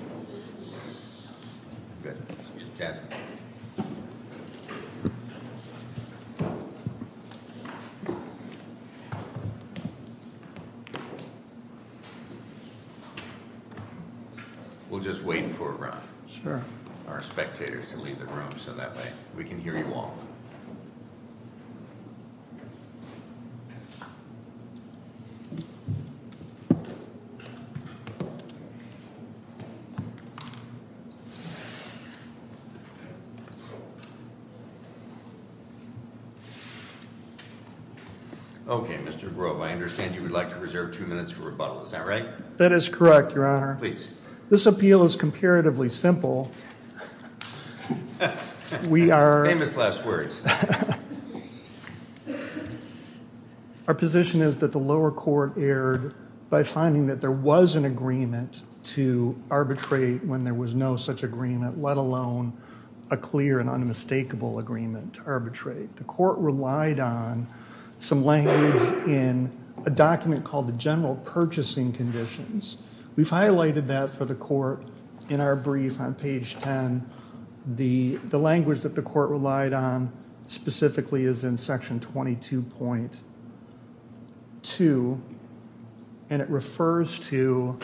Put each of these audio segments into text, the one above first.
S.p.A. v. Mrinalini Inc. Mr. Grove, I understand you would like to reserve two minutes for rebuttal. Is that right? That is correct, Your Honor. Please. This appeal is comparatively simple. We are... Famous last words. Our position is that the lower court erred by finding that there was an agreement to arbitrate when there was no such agreement, let alone a clear and unmistakable agreement to arbitrate. The court relied on some language in a document called the General Purchasing Conditions. We've highlighted that for the court in our brief on page 10. The language that the court relied on specifically is in section 22.2, and it refers to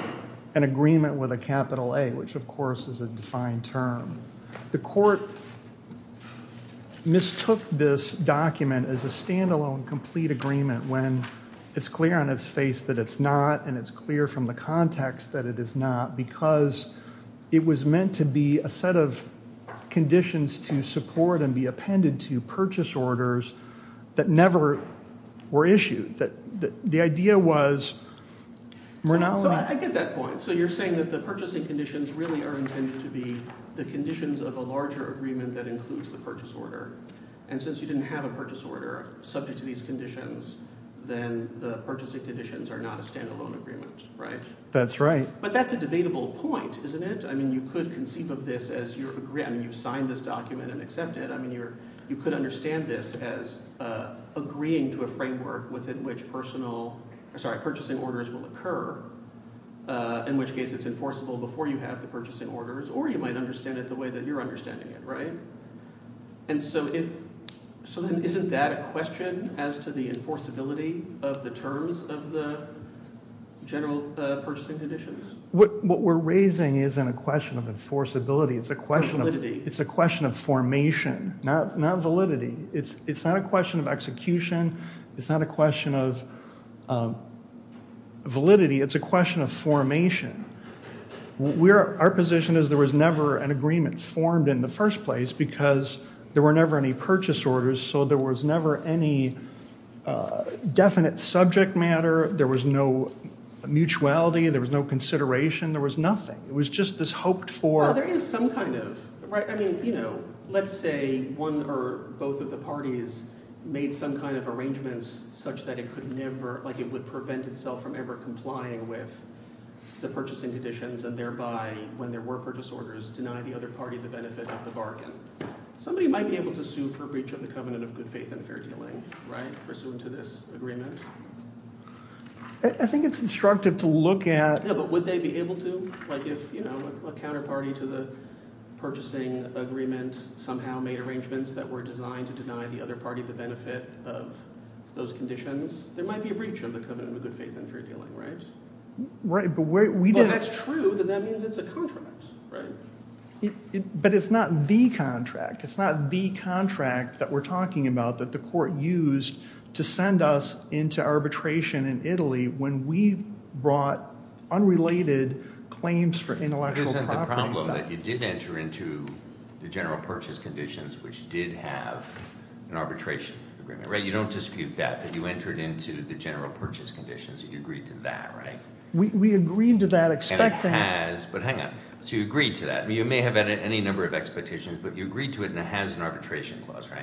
an agreement with a capital A, which of course is a defined term. The court mistook this document as a stand-alone complete agreement when it's clear on its face that it's not, and it's clear from the context that it is not, because it was meant to be a set of conditions to support and be appended to purchase orders that never were issued. The idea was... So I get that point. So you're saying that the purchasing conditions really are intended to be the conditions of a larger agreement that includes the purchase order. And since you didn't have a purchase order subject to these conditions, then the purchasing conditions are not a stand-alone agreement, right? That's right. But that's a debatable point, isn't it? I mean, you could conceive of this as you're agreeing, I mean, you've signed this document and accepted it. I mean, you could understand this as agreeing to a framework within which purchasing orders will occur, in which case it's enforceable before you have the purchasing orders, or you might understand it the way that you're understanding it, right? And so isn't that a question as to the enforceability of the terms of the general purchasing conditions? What we're raising isn't a question of enforceability, it's a question of formation, not validity. It's not a question of execution, it's not a question of validity, it's a question of Our position is there was never an agreement formed in the first place because there were never any purchase orders, so there was never any definite subject matter, there was no mutuality, there was no consideration, there was nothing. It was just this hoped for... Well, there is some kind of, right? I mean, you know, let's say one or both of the parties made some kind of arrangements such that it could never, like it would prevent itself from ever complying with the purchasing conditions and thereby, when there were purchase orders, deny the other party the benefit of the bargain. Somebody might be able to sue for breach of the covenant of good faith and fair dealing, right, pursuant to this agreement. I think it's instructive to look at... Yeah, but would they be able to? Like if, you know, a counterparty to the purchasing agreement somehow made arrangements that were designed to deny the other party the benefit of those conditions, there might be a breach of the covenant of good faith and fair dealing, right? Right, but we didn't... But if that's true, then that means it's a contract, right? But it's not the contract, it's not the contract that we're talking about that the court used to send us into arbitration in Italy when we brought unrelated claims for intellectual property. Isn't the problem that you did enter into the general purchase conditions which did have an arbitration agreement, right? You don't dispute that, that you entered into the general purchase conditions and you agreed to that, right? We agreed to that expecting... And it has, but hang on. So you agreed to that. You may have had any number of expectations, but you agreed to it and it has an arbitration clause, right?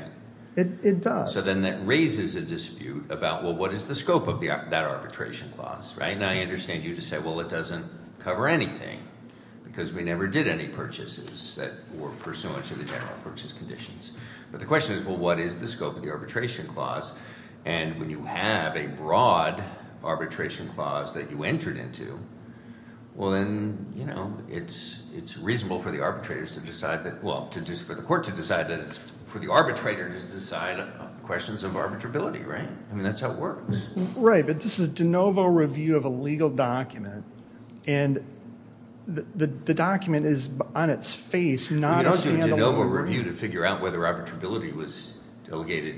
It does. So then that raises a dispute about, well, what is the scope of that arbitration clause, right? And I understand you to say, well, it doesn't cover anything because we never did any purchases that were pursuant to the general purchase conditions. But the question is, well, what is the scope of the arbitration clause? And when you have a broad arbitration clause that you entered into, well, then it's reasonable for the arbitrators to decide that... For the court to decide that it's... For the arbitrator to decide questions of arbitrability, right? I mean, that's how it works. Right. But this is de novo review of a legal document and the document is on its face, not a handle. De novo review to figure out whether arbitrability was delegated...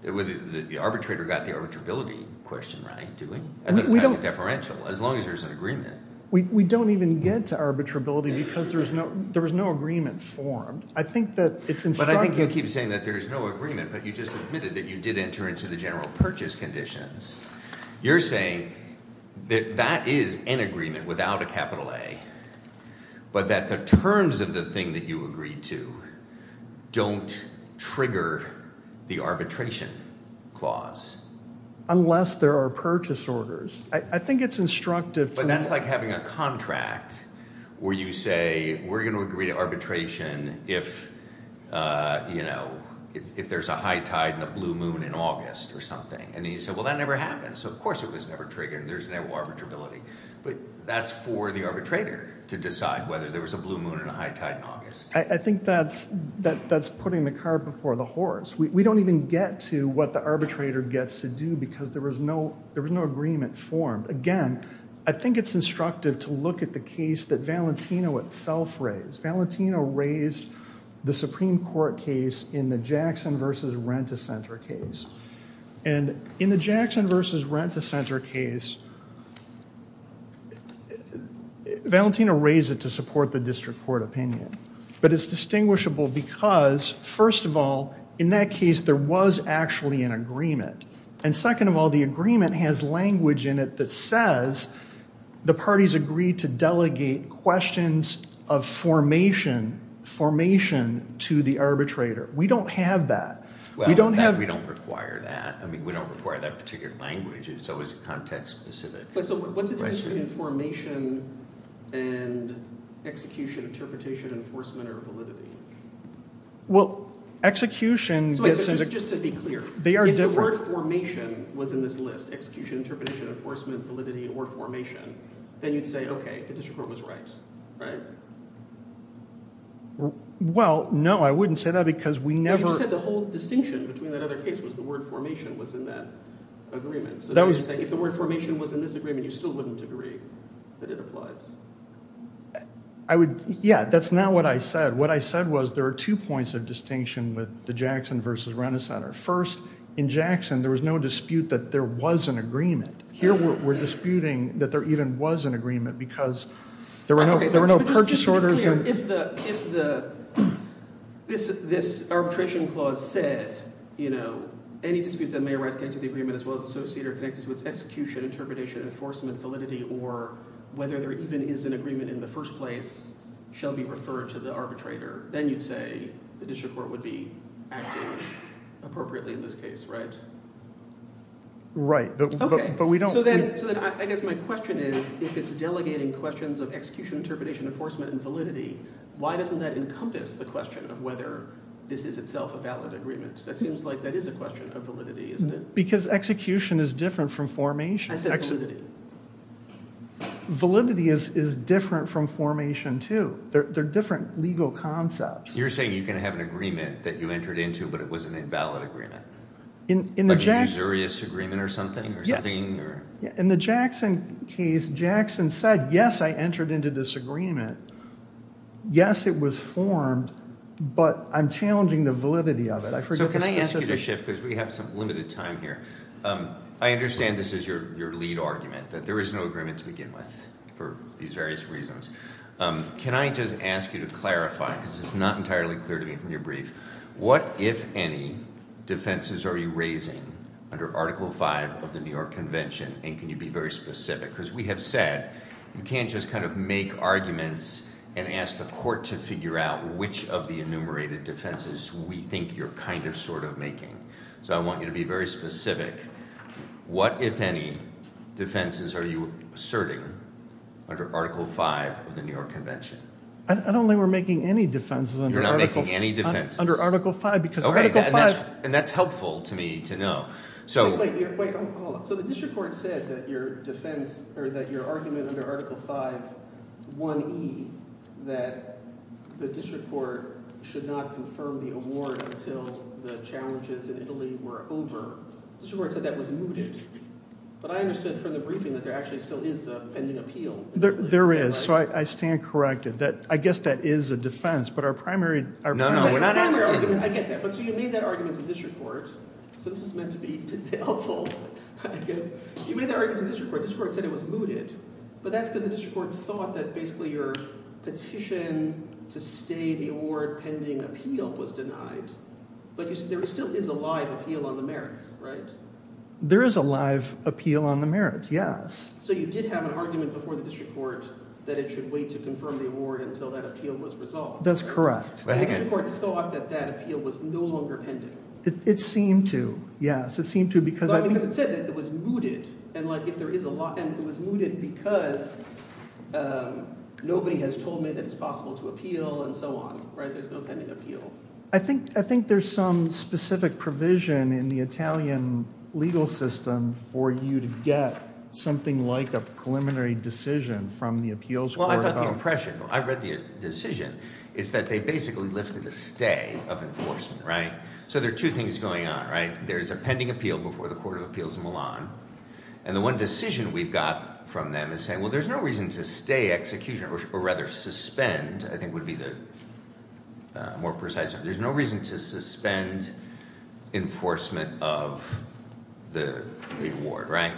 The arbitrator got the arbitrability question right, didn't he? I thought it was kind of a deferential, as long as there's an agreement. We don't even get to arbitrability because there was no agreement formed. I think that it's instructive... But I think you keep saying that there's no agreement, but you just admitted that you did enter into the general purchase conditions. You're saying that that is an agreement without a capital A, but that the terms of the thing that you agreed to don't trigger the arbitration clause. Unless there are purchase orders. I think it's instructive to... That's like having a contract where you say, we're going to agree to arbitration if there's a high tide and a blue moon in August or something. And then you say, well, that never happened. So of course it was never triggered. There's no arbitrability. But that's for the arbitrator to decide whether there was a blue moon and a high tide in August. I think that's putting the cart before the horse. We don't even get to what the arbitrator gets to do because there was no agreement formed. Again, I think it's instructive to look at the case that Valentino itself raised. Valentino raised the Supreme Court case in the Jackson v. Rent-A-Center case. And in the Jackson v. Rent-A-Center case, Valentino raised it to support the district court opinion. But it's distinguishable because, first of all, in that case there was actually an agreement. And second of all, the agreement has language in it that says the parties agree to delegate questions of formation to the arbitrator. We don't have that. Well, in fact, we don't require that. I mean, we don't require that particular language. It's always a context-specific question. But so what's the difference between formation and execution, interpretation, enforcement, or validity? Well, execution gets- Just to be clear. They are different. If the word formation was in this list, execution, interpretation, enforcement, validity, or formation, then you'd say, okay, the district court was right, right? Well, no, I wouldn't say that because we never- No, you just said the whole distinction between that other case was the word formation was in that agreement. So you're saying if the word formation was in this agreement, you still wouldn't agree that it applies. Yeah, that's not what I said. What I said was there are two points of distinction with the Jackson v. Rent-A-Center. First, in Jackson, there was no dispute that there was an agreement. Here, we're disputing that there even was an agreement because there were no purchase orders- Okay, but just to be clear, if this arbitration clause said, you know, any dispute that may arise connected to the agreement as well as associated or connected to its execution, interpretation, enforcement, validity, or whether there even is an agreement in the first place shall be referred to the arbitrator, then you'd say the district court would be appropriately in this case, right? Right, but we don't- So then I guess my question is, if it's delegating questions of execution, interpretation, enforcement, and validity, why doesn't that encompass the question of whether this is itself a valid agreement? That seems like that is a question of validity, isn't it? Because execution is different from formation. I said validity. Validity is different from formation, too. They're different legal concepts. You're saying you can have an agreement that you entered into, but it was an invalid agreement? In the Jackson case, Jackson said, yes, I entered into this agreement. Yes, it was formed, but I'm challenging the validity of it. So can I ask you to shift because we have some limited time here. I understand this is your lead argument, that there is no agreement to begin with for these various reasons. Can I just ask you to clarify, because it's not entirely clear to me from your brief, what, if any, defenses are you raising under Article V of the New York Convention? And can you be very specific? Because we have said, you can't just kind of make arguments and ask the court to figure out which of the enumerated defenses we think you're kind of, sort of making. So I want you to be very specific. What, if any, defenses are you asserting under Article V of the New York Convention? I don't think we're making any defenses under Article V. You're not making any defenses? Under Article V, because Article V— And that's helpful to me to know. Wait, hold on. So the district court said that your argument under Article V, 1E, that the district court should not confirm the award until the challenges in Italy were over. The district court said that was mooted. But I understood from the briefing that there actually still is a pending appeal. There is. So I stand corrected. I guess that is a defense, but our primary— No, no, we're not answering— I get that. But so you made that argument to the district court. So this is meant to be helpful, I guess. You made that argument to the district court. The district court said it was mooted. But that's because the district court thought that basically your petition to stay the award pending appeal was denied. But there still is a live appeal on the merits, right? There is a live appeal on the merits, yes. So you did have an argument before the district court that it should wait to confirm the award until that appeal was resolved. That's correct. But the district court thought that that appeal was no longer pending. It seemed to, yes. It seemed to because I think— But because it said that it was mooted. And like if there is a lot— And it was mooted because nobody has told me that it's possible to appeal and so on, right? There's no pending appeal. I think there's some specific provision in the Italian legal system for you to get something like a preliminary decision from the appeals court about— Well, I got the impression, I read the decision, is that they basically lifted a stay of enforcement, right? So there are two things going on, right? There's a pending appeal before the Court of Appeals in Milan. And the one decision we've got from them is saying, well, there's no reason to stay or rather suspend, I think would be the more precise. There's no reason to suspend enforcement of the award, right?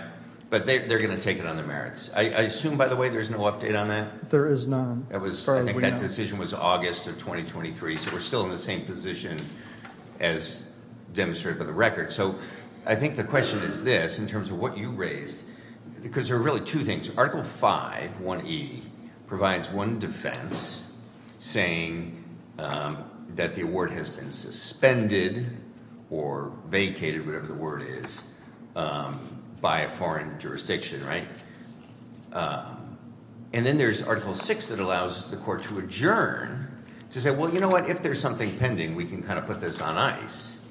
But they're going to take it on their merits. I assume, by the way, there's no update on that? There is none. I think that decision was August of 2023. So we're still in the same position as demonstrated by the record. So I think the question is this, in terms of what you raised, because there are really two things. Article 5, 1E, provides one defense saying that the award has been suspended or vacated, whatever the word is, by a foreign jurisdiction, right? And then there's Article 6 that allows the court to adjourn to say, well, you know what? If there's something pending, we can kind of put this on ice.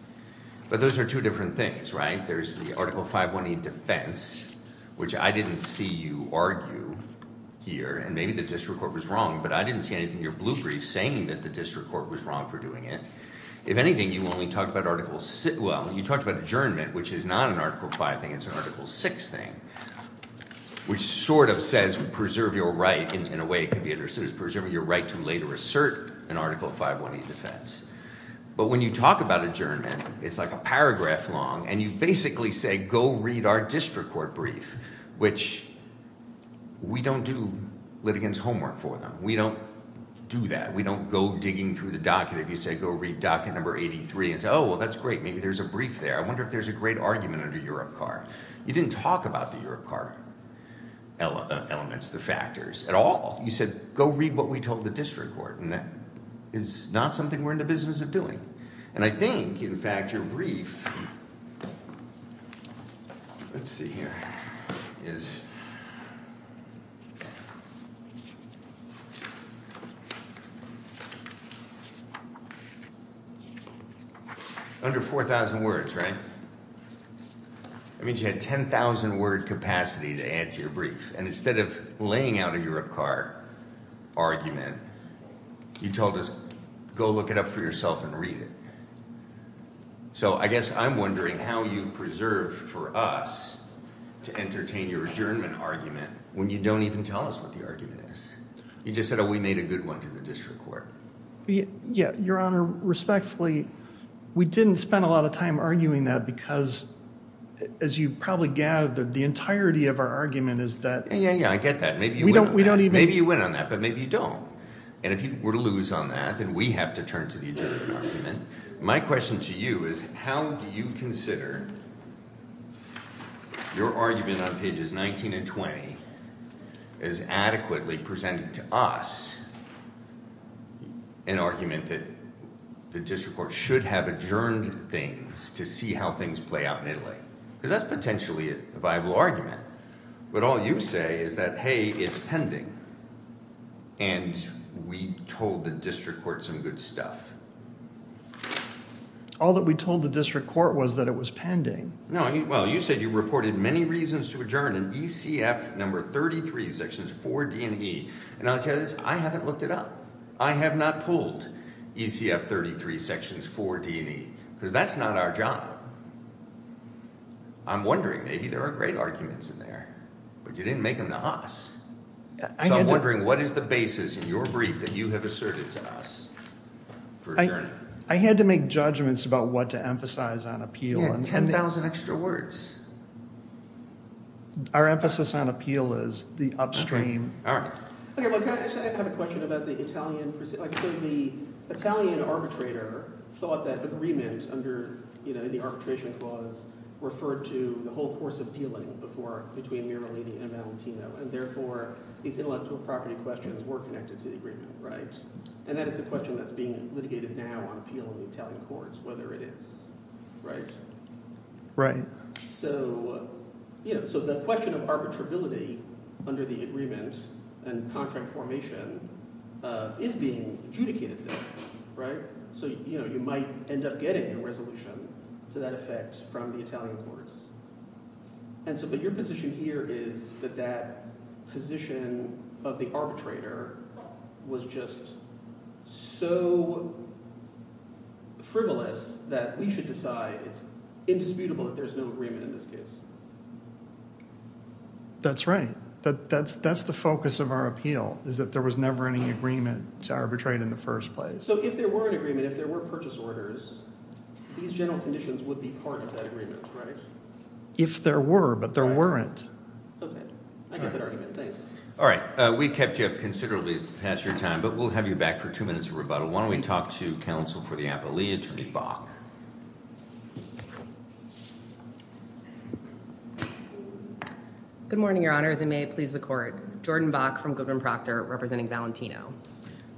But those are two different things, right? There's the Article 5, 1E defense, which I didn't see you argue here. And maybe the district court was wrong. But I didn't see anything in your blue brief saying that the district court was wrong for doing it. If anything, you only talked about Article 6. Well, you talked about adjournment, which is not an Article 5 thing. It's an Article 6 thing, which sort of says preserve your right, in a way it could be understood as preserving your right to later assert an Article 5, 1E defense. But when you talk about adjournment, it's like a paragraph long. And you basically say, go read our district court brief, which we don't do litigants' homework for them. We don't do that. We don't go digging through the docket. If you say, go read docket number 83, and say, oh, well, that's great. Maybe there's a brief there. I wonder if there's a great argument under Europe CAR. You didn't talk about the Europe CAR elements, the factors at all. You said, go read what we told the district court. And that is not something we're in the business of doing. And I think, in fact, your brief, let's see here, is under 4,000 words, right? That means you had 10,000-word capacity to add to your brief. And instead of laying out a Europe CAR argument, you told us, go look it up for yourself and read it. So I guess I'm wondering how you preserve for us to entertain your adjournment argument when you don't even tell us what the argument is. You just said, oh, we made a good one to the district court. Yeah. Your Honor, respectfully, we didn't spend a lot of time arguing that because, as you probably gathered, the entirety of our argument is that... Yeah, yeah, yeah. I get that. Maybe you went on that, but maybe you don't. And if you were to lose on that, then we have to turn to the adjournment argument. My question to you is, how do you consider your argument on pages 19 and 20 as adequately presented to us an argument that the district court should have adjourned things to see how things play out in Italy? Because that's potentially a viable argument. But all you say is that, hey, it's pending. And we told the district court some good stuff. All that we told the district court was that it was pending. No. Well, you said you reported many reasons to adjourn in ECF number 33, sections 4D and E. And I'll tell you this. I haven't looked it up. I have not pulled ECF 33, sections 4D and E, because that's not our job. I'm wondering. Maybe there are great arguments in there, but you didn't make them to us. So I'm wondering, what is the basis in your brief that you have asserted to us for adjourning? I had to make judgments about what to emphasize on appeal. Yeah, 10,000 extra words. Our emphasis on appeal is the upstream. All right. I have a question about the Italian. The Italian arbitrator thought that agreement under the arbitration clause referred to the whole course of dealing between Miralini and Valentino. And therefore, these intellectual property questions were connected to the agreement, right? And that is the question that's being litigated now on appeal in the Italian courts, whether it is. Right? Right. So the question of arbitrability under the agreement and contract formation is being adjudicated there, right? So you might end up getting your resolution to that effect from the Italian courts. And so but your position here is that that position of the arbitrator was just so so frivolous that we should decide it's indisputable that there's no agreement in this case. That's right. That's the focus of our appeal is that there was never any agreement to arbitrate in the first place. So if there were an agreement, if there were purchase orders, these general conditions would be part of that agreement, right? If there were, but there weren't. Okay. I get that argument. Thanks. All right. We kept you up considerably past your time, but we'll have you back for two minutes of Why don't we talk to counsel for the appellee, Attorney Bach. Good morning, Your Honors. And may it please the court. Jordan Bach from Goodman Proctor representing Valentino.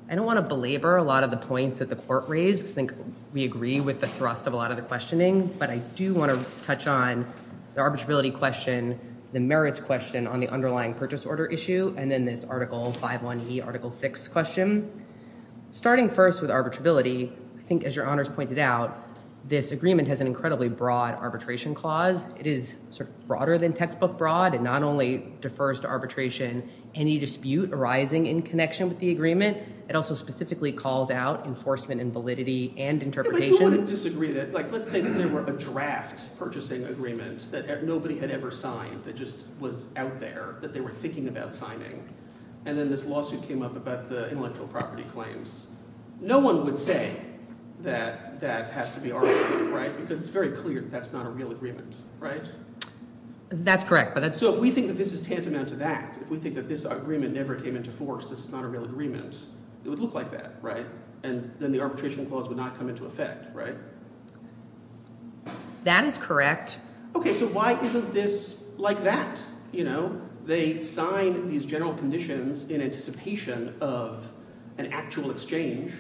I don't want to belabor a lot of the points that the court raised. I think we agree with the thrust of a lot of the questioning, but I do want to touch on the arbitrability question, the merits question on the underlying purchase order issue, and then this Article 5.1e, Article 6 question. Starting first with arbitrability, I think as Your Honors pointed out, this agreement has an incredibly broad arbitration clause. It is sort of broader than textbook broad. It not only defers to arbitration, any dispute arising in connection with the agreement, it also specifically calls out enforcement and validity and interpretation. Who wouldn't disagree that? Let's say that there were a draft purchasing agreement that nobody had ever signed that was out there, that they were thinking about signing. And then this lawsuit came up about the intellectual property claims. No one would say that that has to be arbitrated, right? Because it's very clear that that's not a real agreement, right? That's correct. So if we think that this is tantamount to that, if we think that this agreement never came into force, this is not a real agreement, it would look like that, right? And then the arbitration clause would not come into effect, right? That is correct. Okay, so why isn't this like that? You know, they sign these general conditions in anticipation of an actual exchange,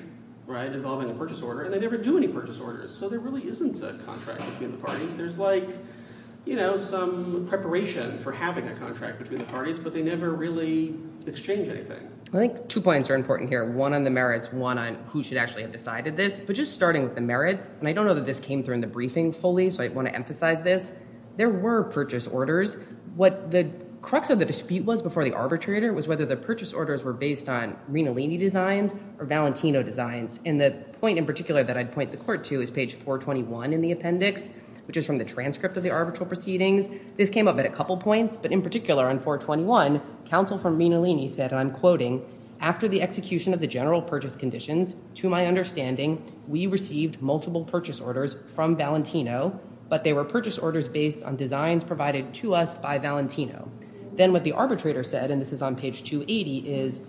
right, involving a purchase order, and they never do any purchase orders. So there really isn't a contract between the parties. There's like, you know, some preparation for having a contract between the parties, but they never really exchange anything. I think two points are important here. One on the merits, one on who should actually have decided this. But just starting with the merits, and I don't know that this came through in the briefing fully, so I want to emphasize this. There were purchase orders. What the crux of the dispute was before the arbitrator was whether the purchase orders were based on Rinalini designs or Valentino designs. And the point in particular that I'd point the court to is page 421 in the appendix, which is from the transcript of the arbitral proceedings. This came up at a couple points, but in particular on 421, counsel from Rinalini said, and I'm quoting, after the execution of the general purchase conditions, to my understanding, we received multiple purchase orders from Valentino, but they were purchase orders based on designs provided to us by Valentino. Then what the arbitrator said, and this is on page 280, is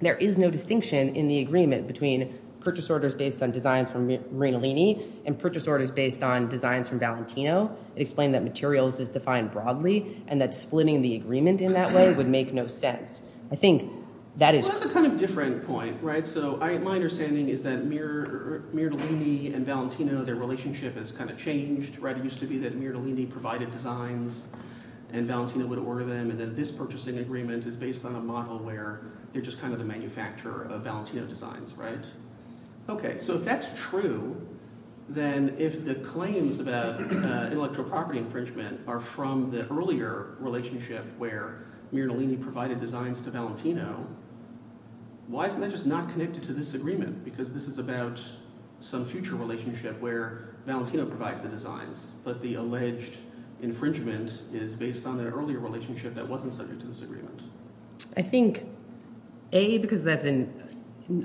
there is no distinction in the agreement between purchase orders based on designs from Rinalini and purchase orders based on designs from Valentino. It explained that materials is defined broadly, and that splitting the agreement in that way would make no sense. I think that is- That's a kind of different point, right? So my understanding is that Rinalini and Valentino, their relationship has kind of changed, right? It used to be that Rinalini provided designs and Valentino would order them, and then this purchasing agreement is based on a model where they're just kind of the manufacturer of Valentino designs, right? Okay, so if that's true, then if the claims about intellectual property infringement are from the earlier relationship where Rinalini provided designs to Valentino, why isn't that just not connected to this agreement? Because this is about some future relationship where Valentino provides the designs, but the alleged infringement is based on an earlier relationship that wasn't subject to this agreement. I think A, because that's in-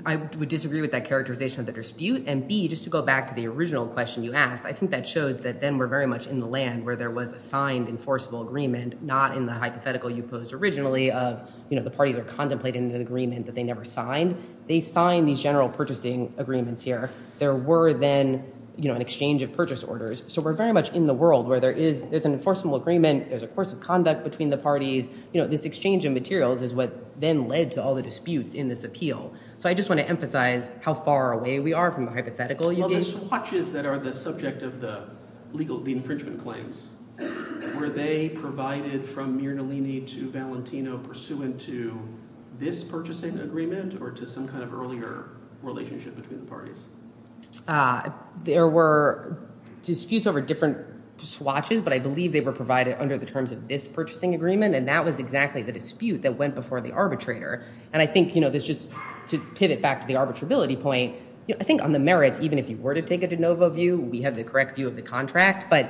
I would disagree with that characterization of the dispute, and B, just to go back to the original question you asked, I think that shows that then we're very much in the land where there was a signed enforceable agreement, not in the hypothetical you posed originally of, you know, the parties are contemplating an agreement that they never signed, they signed these general purchasing agreements here. There were then, you know, an exchange of purchase orders. So we're very much in the world where there is- there's an enforceable agreement, there's a course of conduct between the parties, you know, this exchange of materials is what then led to all the disputes in this appeal. So I just want to emphasize how far away we are from the hypothetical. Well, the swatches that are the subject of the legal- the infringement claims, were they provided from Mirnalini to Valentino pursuant to this purchasing agreement or to some kind of earlier relationship between the parties? There were disputes over different swatches, but I believe they were provided under the terms of this purchasing agreement, and that was exactly the dispute that went before the arbitrator. And I think, you know, there's just- to pivot back to the arbitrability point, you know, I think on the merits, even if you were to take a de novo view, we have the correct view of the contract, but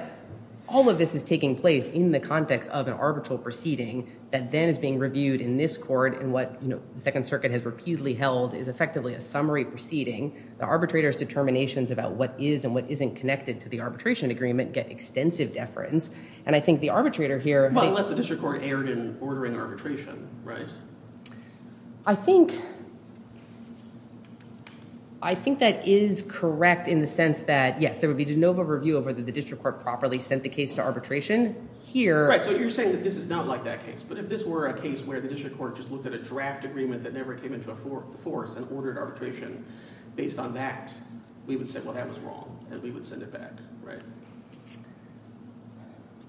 all of this is taking place in the context of an arbitral proceeding that then is being reviewed in this court in what, you know, the Second Circuit has reputedly held is effectively a summary proceeding. The arbitrator's determinations about what is and what isn't connected to the arbitration agreement get extensive deference. And I think the arbitrator here- Well, unless the district court erred in ordering arbitration, right? I think- I think that is correct in the sense that, yes, there would be de novo review over that the district court properly sent the case to arbitration. Here- Right. So you're saying that this is not like that case, but if this were a case where the district court just looked at a draft agreement that never came into force and ordered arbitration, based on that, we would say, well, that was wrong, and we would send it back, right?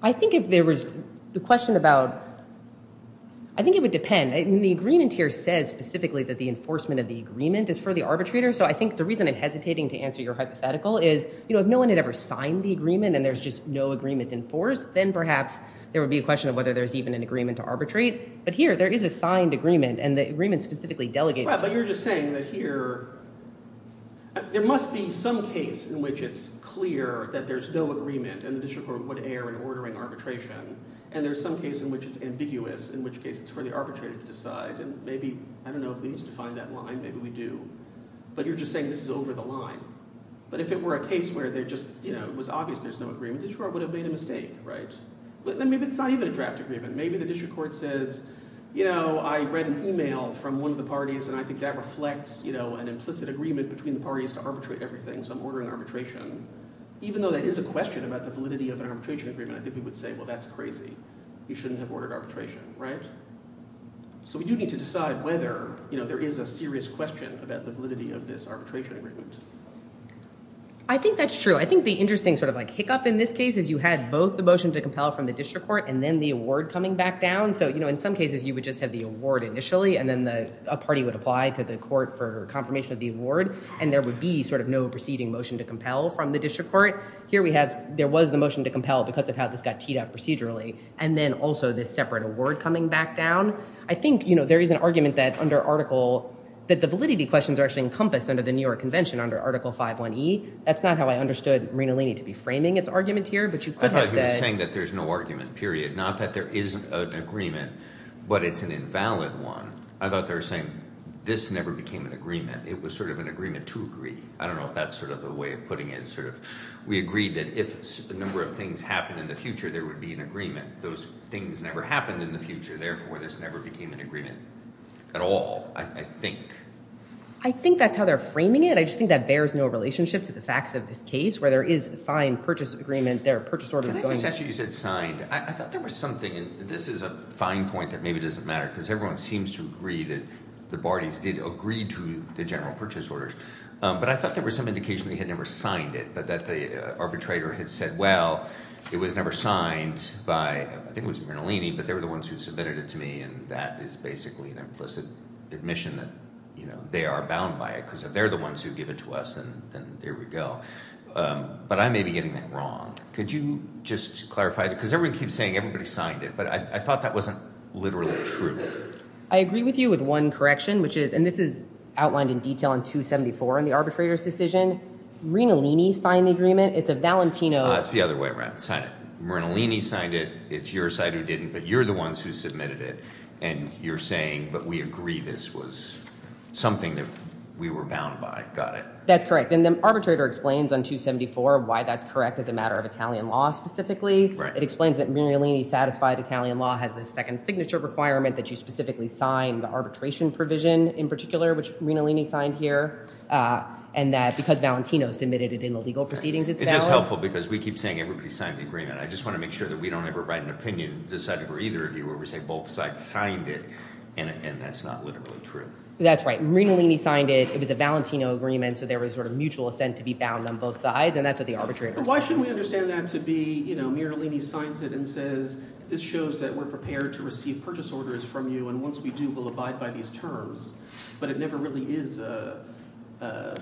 I think if there was- the question about- I think it would depend. The agreement here says specifically that the enforcement of the agreement is for the arbitrator, so I think the reason I'm hesitating to answer your hypothetical is, you know, if no one had ever signed the agreement and there's just no agreement in force, then perhaps there would be a question of whether there's even an agreement to arbitrate. But here, there is a signed agreement, and the agreement specifically delegates- Right, but you're just saying that here- there must be some case in which it's clear that there's no agreement, and the district court would err in ordering arbitration, and there's some case in which it's ambiguous, in which case it's for the arbitrator to decide, and maybe- I don't know if we need to define that line, maybe we do. But you're just saying this is over the line. But if it were a case where there just, you know, it was obvious there's no agreement, the district court would have made a mistake, right? But then maybe it's not even a draft agreement. Maybe the district court says, you know, I read an email from one of the parties, and I think that reflects, you know, an implicit agreement between the parties to arbitrate everything, so I'm ordering arbitration. Even though that is a question about the validity of an arbitration agreement, I think we would say, well, that's crazy. You shouldn't have ordered arbitration, right? So we do need to decide whether, you know, there is a serious question about the validity of this arbitration agreement. I think that's true. I think the interesting sort of, like, hiccup in this case is you had both the motion to compel from the district court and then the award coming back down. So, you know, in some cases you would just have the award initially, and then a party would apply to the court for confirmation of the award, and there would be sort of no proceeding motion to compel from the district court. Here we have- there was the motion to compel because of how this got teed up procedurally, and then also this separate award coming back down. I think, you know, there is an argument that under Article- that the validity questions are actually encompassed under the New York Convention, under Article 5.1e. That's not how I understood Rinalini to be framing its argument here, but you could have said- I thought you were saying that there's no argument, period. Not that there isn't an agreement, but it's an invalid one. I thought they were saying this never became an agreement. It was sort of an agreement to agree. I don't know if that's sort of a way of putting it, sort of. We agreed that if a number of things happened in the future, there would be an agreement. Those things never happened in the future. Therefore, this never became an agreement at all, I think. I think that's how they're framing it. I just think that bears no relationship to the facts of this case, where there is a signed purchase agreement. There are purchase orders going- I think I just asked you if you said signed. I thought there was something, and this is a fine point that maybe doesn't matter because everyone seems to agree that the Bardis did agree to the general purchase orders, but I thought there was some indication they had never signed it, but that the arbitrator had said, well, it was never signed by- I think it was Rinalini, but they were the ones who submitted it to me, and that is basically an implicit admission that they are bound by it, because if they're the ones who give it to us, then there we go. But I may be getting that wrong. Could you just clarify that? Because everyone keeps saying everybody signed it, but I thought that wasn't literally true. I agree with you with one correction, which is- and this is outlined in detail in 274 in the arbitrator's decision. Rinalini signed the agreement. It's a Valentino- It's the other way around. Sign it. Rinalini signed it. It's your side who didn't, but you're the ones who submitted it, and you're saying, but we agree this was something that we were bound by. Got it. That's correct. And the arbitrator explains on 274 why that's correct as a matter of Italian law specifically. It explains that Rinalini satisfied Italian law has a second signature requirement that you specifically sign the arbitration provision in particular, which Rinalini signed here, and that because Valentino submitted it in the legal proceedings, it's valid. It's just helpful because we keep saying everybody signed the agreement. I just want to make sure that we don't ever write an opinion deciding for either of you where we say both sides signed it, and that's not literally true. That's right. Rinalini signed it. It was a Valentino agreement, so there was sort of mutual assent to be bound on both sides, and that's what the arbitrator- Why shouldn't we understand that to be, you know, Rinalini signs it and says, this shows that we're prepared to receive purchase orders from you, and once we do, we'll abide by these terms, but it never really is a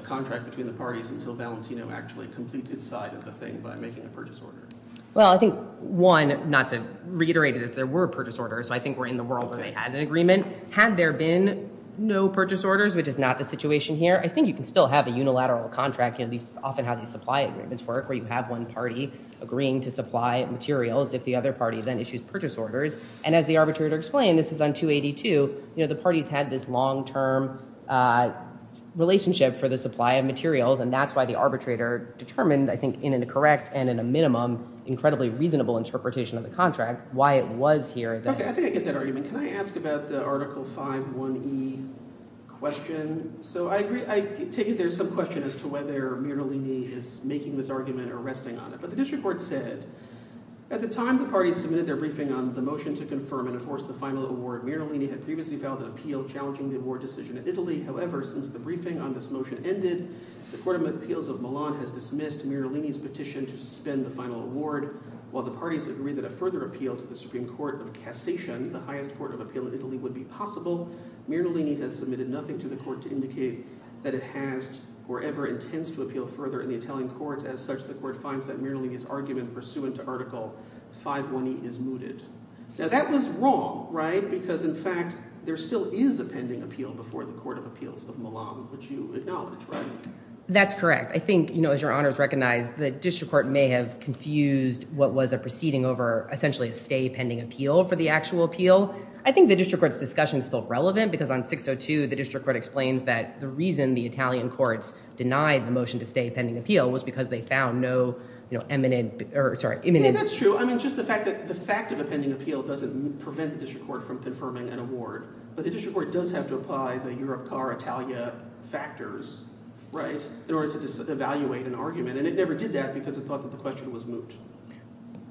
contract between the parties until Valentino actually completes its side of the thing by making a purchase order. Well, I think, one, not to reiterate it, is there were purchase orders, so I think we're in the world where they had an agreement. Had there been no purchase orders, which is not the situation here, I think you can still have a unilateral contract, at least often how these supply agreements work, where you have one party agreeing to supply materials if the other party then issues purchase orders, and as the arbitrator explained, this is on 282, you know, the parties had this long-term relationship for the supply of materials, and that's why the arbitrator determined, I think, in a correct and in a minimum incredibly reasonable interpretation of the contract, why it was here that- Okay, I think I get that argument. Can I ask about the Article 5.1e question? So I agree, I take it there's some question as to whether Rinalini is making this argument or resting on it, but the district court said, at the time the parties submitted their briefing on the motion to confirm and enforce the final award, Rinalini had previously filed an appeal challenging the award decision in Italy. However, since the briefing on this motion ended, the Court of Appeals of Milan has dismissed Rinalini's petition to suspend the final award, while the parties agree that a further appeal to the Supreme Court of Cassation, the highest court of appeal in Italy, would be possible. Rinalini has submitted nothing to the court to indicate that it has or ever intends to appeal further in the Italian courts. As such, the court finds that Rinalini's argument pursuant to Article 5.1e is mooted. So that was wrong, right? Because in fact, there still is a pending appeal before the Court of Appeals of Milan, which you acknowledge, right? That's correct. I think, you know, as your honors recognize, the district court may have confused what was a proceeding over essentially a stay pending appeal for the actual appeal. I think the district court's discussion is still relevant because on 6.02, the district court explains that the reason the Italian courts denied the motion to stay pending appeal was because they found no, you know, imminent, or sorry, imminent... Yeah, that's true. I mean, just the fact that the fact of a pending appeal doesn't prevent the district court from confirming an award, but the district court does have to apply the Europcar Italia factors, right, in order to evaluate an argument. And it never did that because it thought that the question was moot.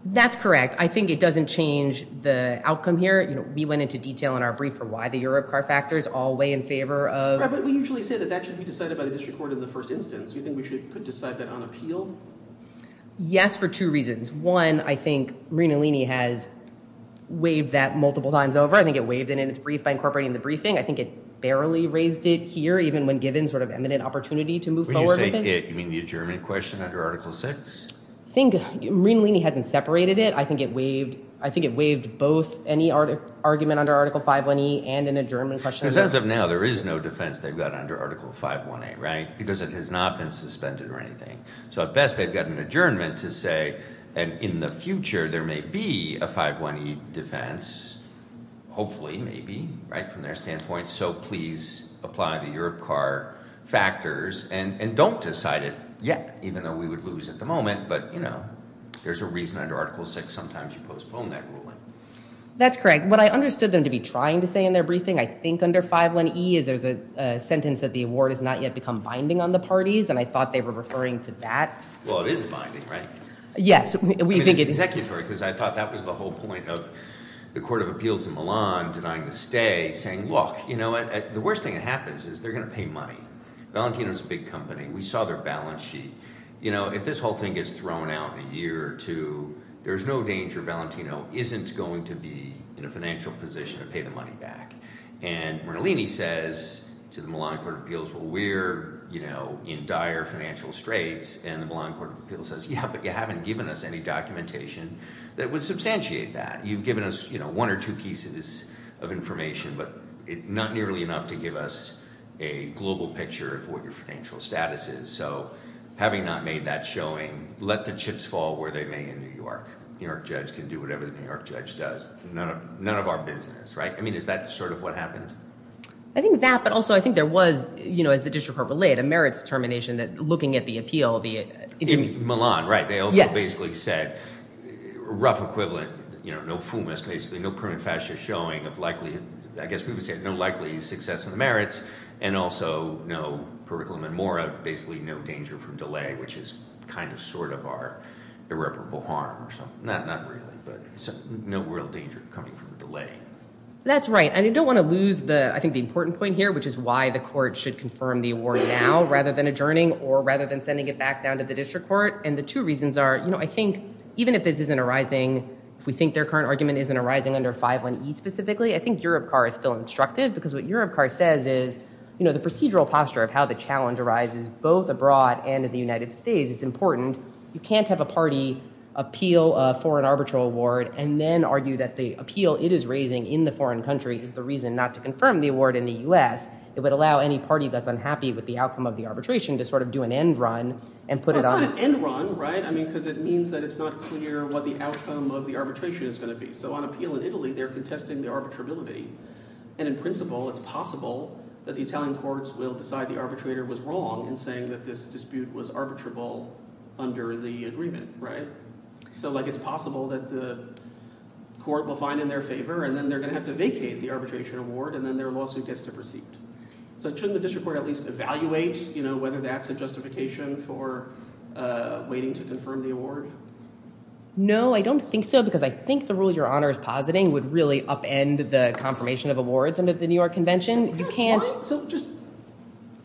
That's correct. I think it doesn't change the outcome here. You know, we went into detail in our brief for why the Europcar factors all weigh in favor of... Right, but we usually say that that should be decided by the district court in the first instance. Do you think we could decide that on appeal? Yes, for two reasons. One, I think Rinalini has waived that multiple times over. I think it waived it in its brief by incorporating the briefing. I think it barely raised it here, even when given sort of imminent opportunity to move forward with it. When you say it, you mean the adjournment question under Article 6? I think Rinalini hasn't separated it. I think it waived both any argument under Article 5.1e and an adjournment question. Because as of now, there is no defense they've got under Article 5.1a, right, because it has not been suspended or anything. So at best, they've got an adjournment to say, and in the future, there may be a 5.1e defense, hopefully, maybe, right, from their standpoint. So please apply the Europcar factors, and don't decide it yet, even though we would lose at the moment. But, you know, there's a reason under Article 6 sometimes you postpone that ruling. That's correct. What I understood them to be trying to say in their briefing, I think under 5.1e, is there's a sentence that the award has not yet become binding on the parties, and I thought they were referring to that. Well, it is binding, right? Yes, we think it is. It's executory, because I thought that was the whole point of the Court of Appeals in Milan denying the stay, saying, look, you know what, the worst thing that happens is they're going to pay money. Valentino's a big company. We saw their balance sheet. You know, if this whole thing gets thrown out in a year or two, there's no danger Valentino isn't going to be in a financial position to pay the money back. And Rinalini says to the Milan Court of Appeals, well, we're, you know, in dire financial straits, and the Court of Appeals hasn't given us any documentation that would substantiate that. You've given us, you know, one or two pieces of information, but not nearly enough to give us a global picture of what your financial status is. So having not made that showing, let the chips fall where they may in New York. New York judge can do whatever the New York judge does. None of our business, right? I mean, is that sort of what happened? I think that, but also I think there was, you know, as the district court relayed, a merits determination that looking at the appeal, the— Milan, right. They also basically said, rough equivalent, you know, no FUMAs basically, no permanent fascia showing of likelihood. I guess we would say no likely success in the merits and also no curriculum and more of basically no danger from delay, which is kind of sort of our irreparable harm or something. Not really, but no real danger coming from delay. That's right. And you don't want to lose the, I think the important point here, which is why the court should confirm the award now rather than adjourning or rather than sending it back to the district court. And the two reasons are, you know, I think even if this isn't arising, if we think their current argument isn't arising under 511E specifically, I think Europe CAR is still instructive because what Europe CAR says is, you know, the procedural posture of how the challenge arises both abroad and in the United States is important. You can't have a party appeal for an arbitral award and then argue that the appeal it is raising in the foreign country is the reason not to confirm the award in the U.S. It would allow any party that's unhappy with the outcome of the arbitration to sort of do an end run and put it on. That's not an end run, right? I mean, because it means that it's not clear what the outcome of the arbitration is going to be. So on appeal in Italy, they're contesting the arbitrability. And in principle, it's possible that the Italian courts will decide the arbitrator was wrong in saying that this dispute was arbitrable under the agreement, right? So like it's possible that the court will find in their favor and then they're going to have to vacate the arbitration award and then their court at least evaluate, you know, whether that's a justification for waiting to confirm the award. No, I don't think so. Because I think the rule your honor is positing would really upend the confirmation of awards under the New York Convention. You can't. So just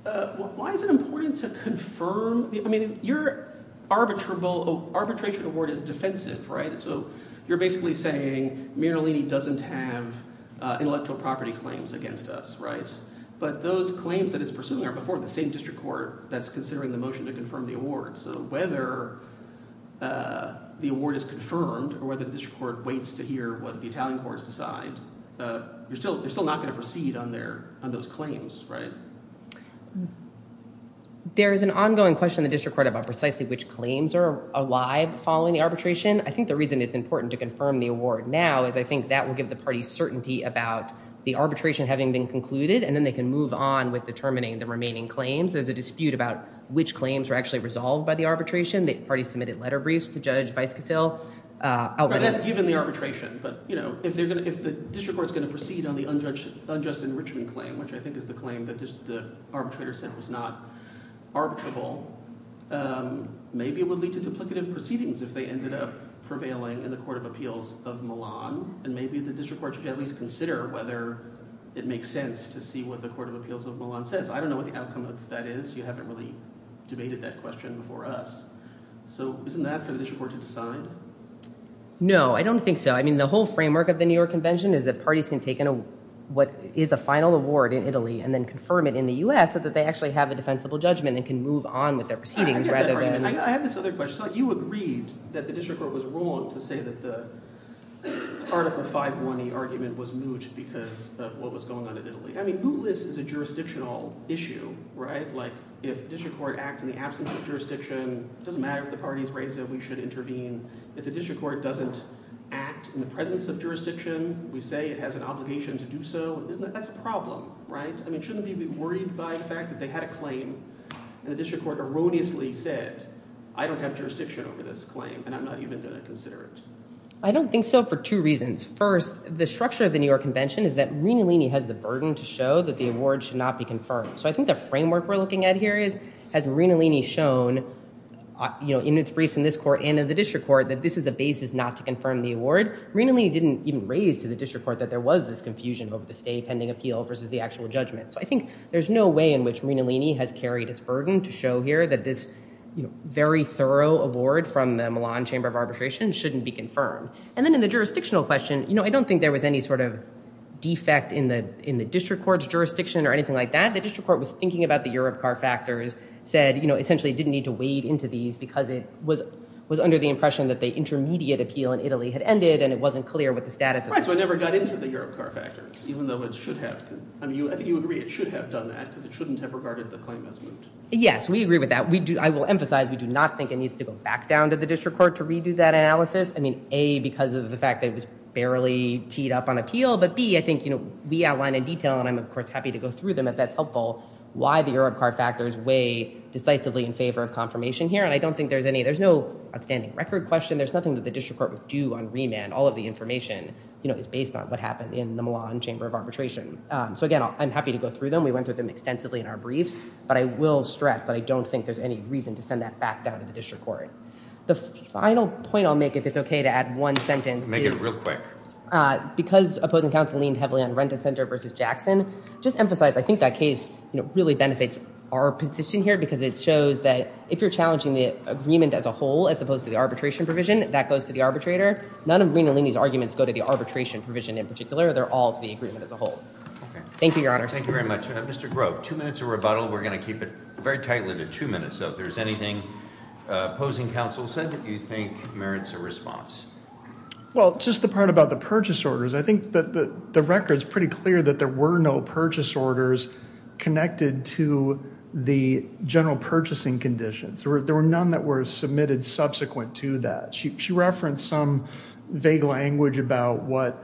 why is it important to confirm? I mean, your arbitrable arbitration award is defensive, right? So you're basically saying Miralini doesn't have intellectual property claims against us, right? But those claims that it's pursuing are before the same district court that's considering the motion to confirm the award. So whether the award is confirmed or whether the district court waits to hear what the Italian courts decide, you're still not going to proceed on those claims, right? There is an ongoing question in the district court about precisely which claims are alive following the arbitration. I think the reason it's important to confirm the award now is I think that will give the party certainty about the arbitration having been concluded and then they can move on with determining the remaining claims. There's a dispute about which claims were actually resolved by the arbitration. The party submitted letter briefs to Judge Vaiskasil. That's given the arbitration. But, you know, if the district court is going to proceed on the unjust enrichment claim, which I think is the claim that the arbitrator sent was not arbitrable, maybe it would lead to duplicative proceedings if they ended up prevailing in the and maybe the district court should at least consider whether it makes sense to see what the Court of Appeals of Milan says. I don't know what the outcome of that is. You haven't really debated that question before us. So isn't that for the district court to decide? No, I don't think so. I mean the whole framework of the New York Convention is that parties can take what is a final award in Italy and then confirm it in the U.S. so that they actually have a defensible judgment and can move on with their proceedings rather than... I have this other question. So you agreed that the district court was wrong to say that the Article 5.1e argument was moot because of what was going on in Italy. I mean, mootless is a jurisdictional issue, right? Like, if the district court acts in the absence of jurisdiction, it doesn't matter if the parties raise it, we should intervene. If the district court doesn't act in the presence of jurisdiction, we say it has an obligation to do so, that's a problem, right? I mean, shouldn't they be worried by the fact that they had a claim and the district court erroneously said, I don't have jurisdiction over this claim and I'm not even going to consider it? I don't think so for two reasons. First, the structure of the New York Convention is that Marinolini has the burden to show that the award should not be confirmed. So I think the framework we're looking at here is, has Marinolini shown in its briefs in this court and in the district court that this is a basis not to confirm the award? Marinolini didn't even raise to the district court that there was this confusion over the stay pending appeal versus the actual judgment. So I think there's no way in which Marinolini has carried its burden to show here that this very award from the Milan Chamber of Arbitration shouldn't be confirmed. And then in the jurisdictional question, you know, I don't think there was any sort of defect in the district court's jurisdiction or anything like that. The district court was thinking about the Europcar factors, said, you know, essentially it didn't need to wade into these because it was under the impression that the intermediate appeal in Italy had ended and it wasn't clear what the status of it was. Right, so it never got into the Europcar factors, even though it should have. I mean, I think you agree it should have done that because it shouldn't have regarded the claim as moot. Yes, we agree with that. We do, I will emphasize, we do not think it needs to go back down to the district court to redo that analysis. I mean, A, because of the fact that it was barely teed up on appeal. But B, I think, you know, we outline in detail, and I'm of course happy to go through them if that's helpful, why the Europcar factors weigh decisively in favor of confirmation here. And I don't think there's any, there's no outstanding record question. There's nothing that the district court would do on remand. All of the information, you know, is based on what happened in the Milan Chamber of Arbitration. So again, I'm happy to go through them. We went through them extensively in our briefs, but I will stress that I don't think there's any reason to send that back down to the district court. The final point I'll make, if it's okay to add one sentence. Make it real quick. Because opposing counsel leaned heavily on Renta Center versus Jackson, just emphasize, I think that case, you know, really benefits our position here, because it shows that if you're challenging the agreement as a whole, as opposed to the arbitration provision, that goes to the arbitrator. None of Green and Leaney's arguments go to the arbitration provision in particular. They're all to the agreement as a group. Two minutes of rebuttal. We're going to keep it very tightly to two minutes, so if there's anything opposing counsel said that you think merits a response. Well, just the part about the purchase orders. I think that the record is pretty clear that there were no purchase orders connected to the general purchasing conditions. There were none that were submitted subsequent to that. She referenced some vague language about what.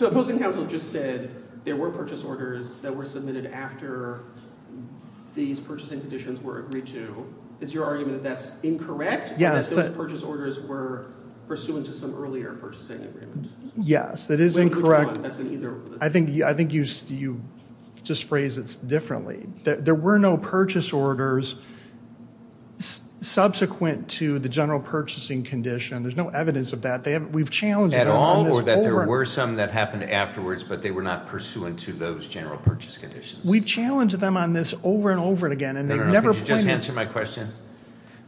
Opposing counsel just said there were purchase orders that were submitted after these purchasing conditions were agreed to. Is your argument that that's incorrect? Yes. That those purchase orders were pursuant to some earlier purchasing agreement. Yes, that is incorrect. I think you just phrased it differently. There were no purchase orders subsequent to the general purchasing condition. There's no evidence of that. We've challenged that there were some that happened afterwards, but they were not pursuant to those general purchase conditions. We've challenged them on this over and over again. Could you just answer my question?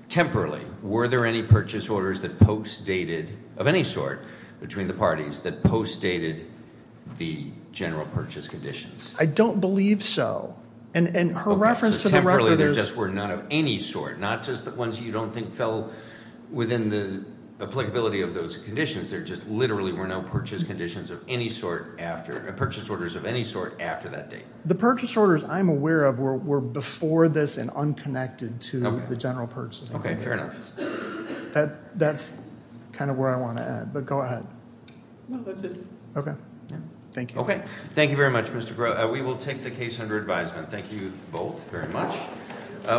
Temporarily, were there any purchase orders that post-dated, of any sort, between the parties that post-dated the general purchase conditions? I don't believe so. Temporarily, there just were none of any sort. Not just the ones you don't feel within the applicability of those conditions. There just literally were no purchase orders of any sort after that date. The purchase orders I'm aware of were before this and unconnected to the general purchasing agreement. Fair enough. That's where I want to add, but go ahead. That's it. Thank you. Thank you very much, Mr. Crow. We will take the case under advisement. Thank you both very much.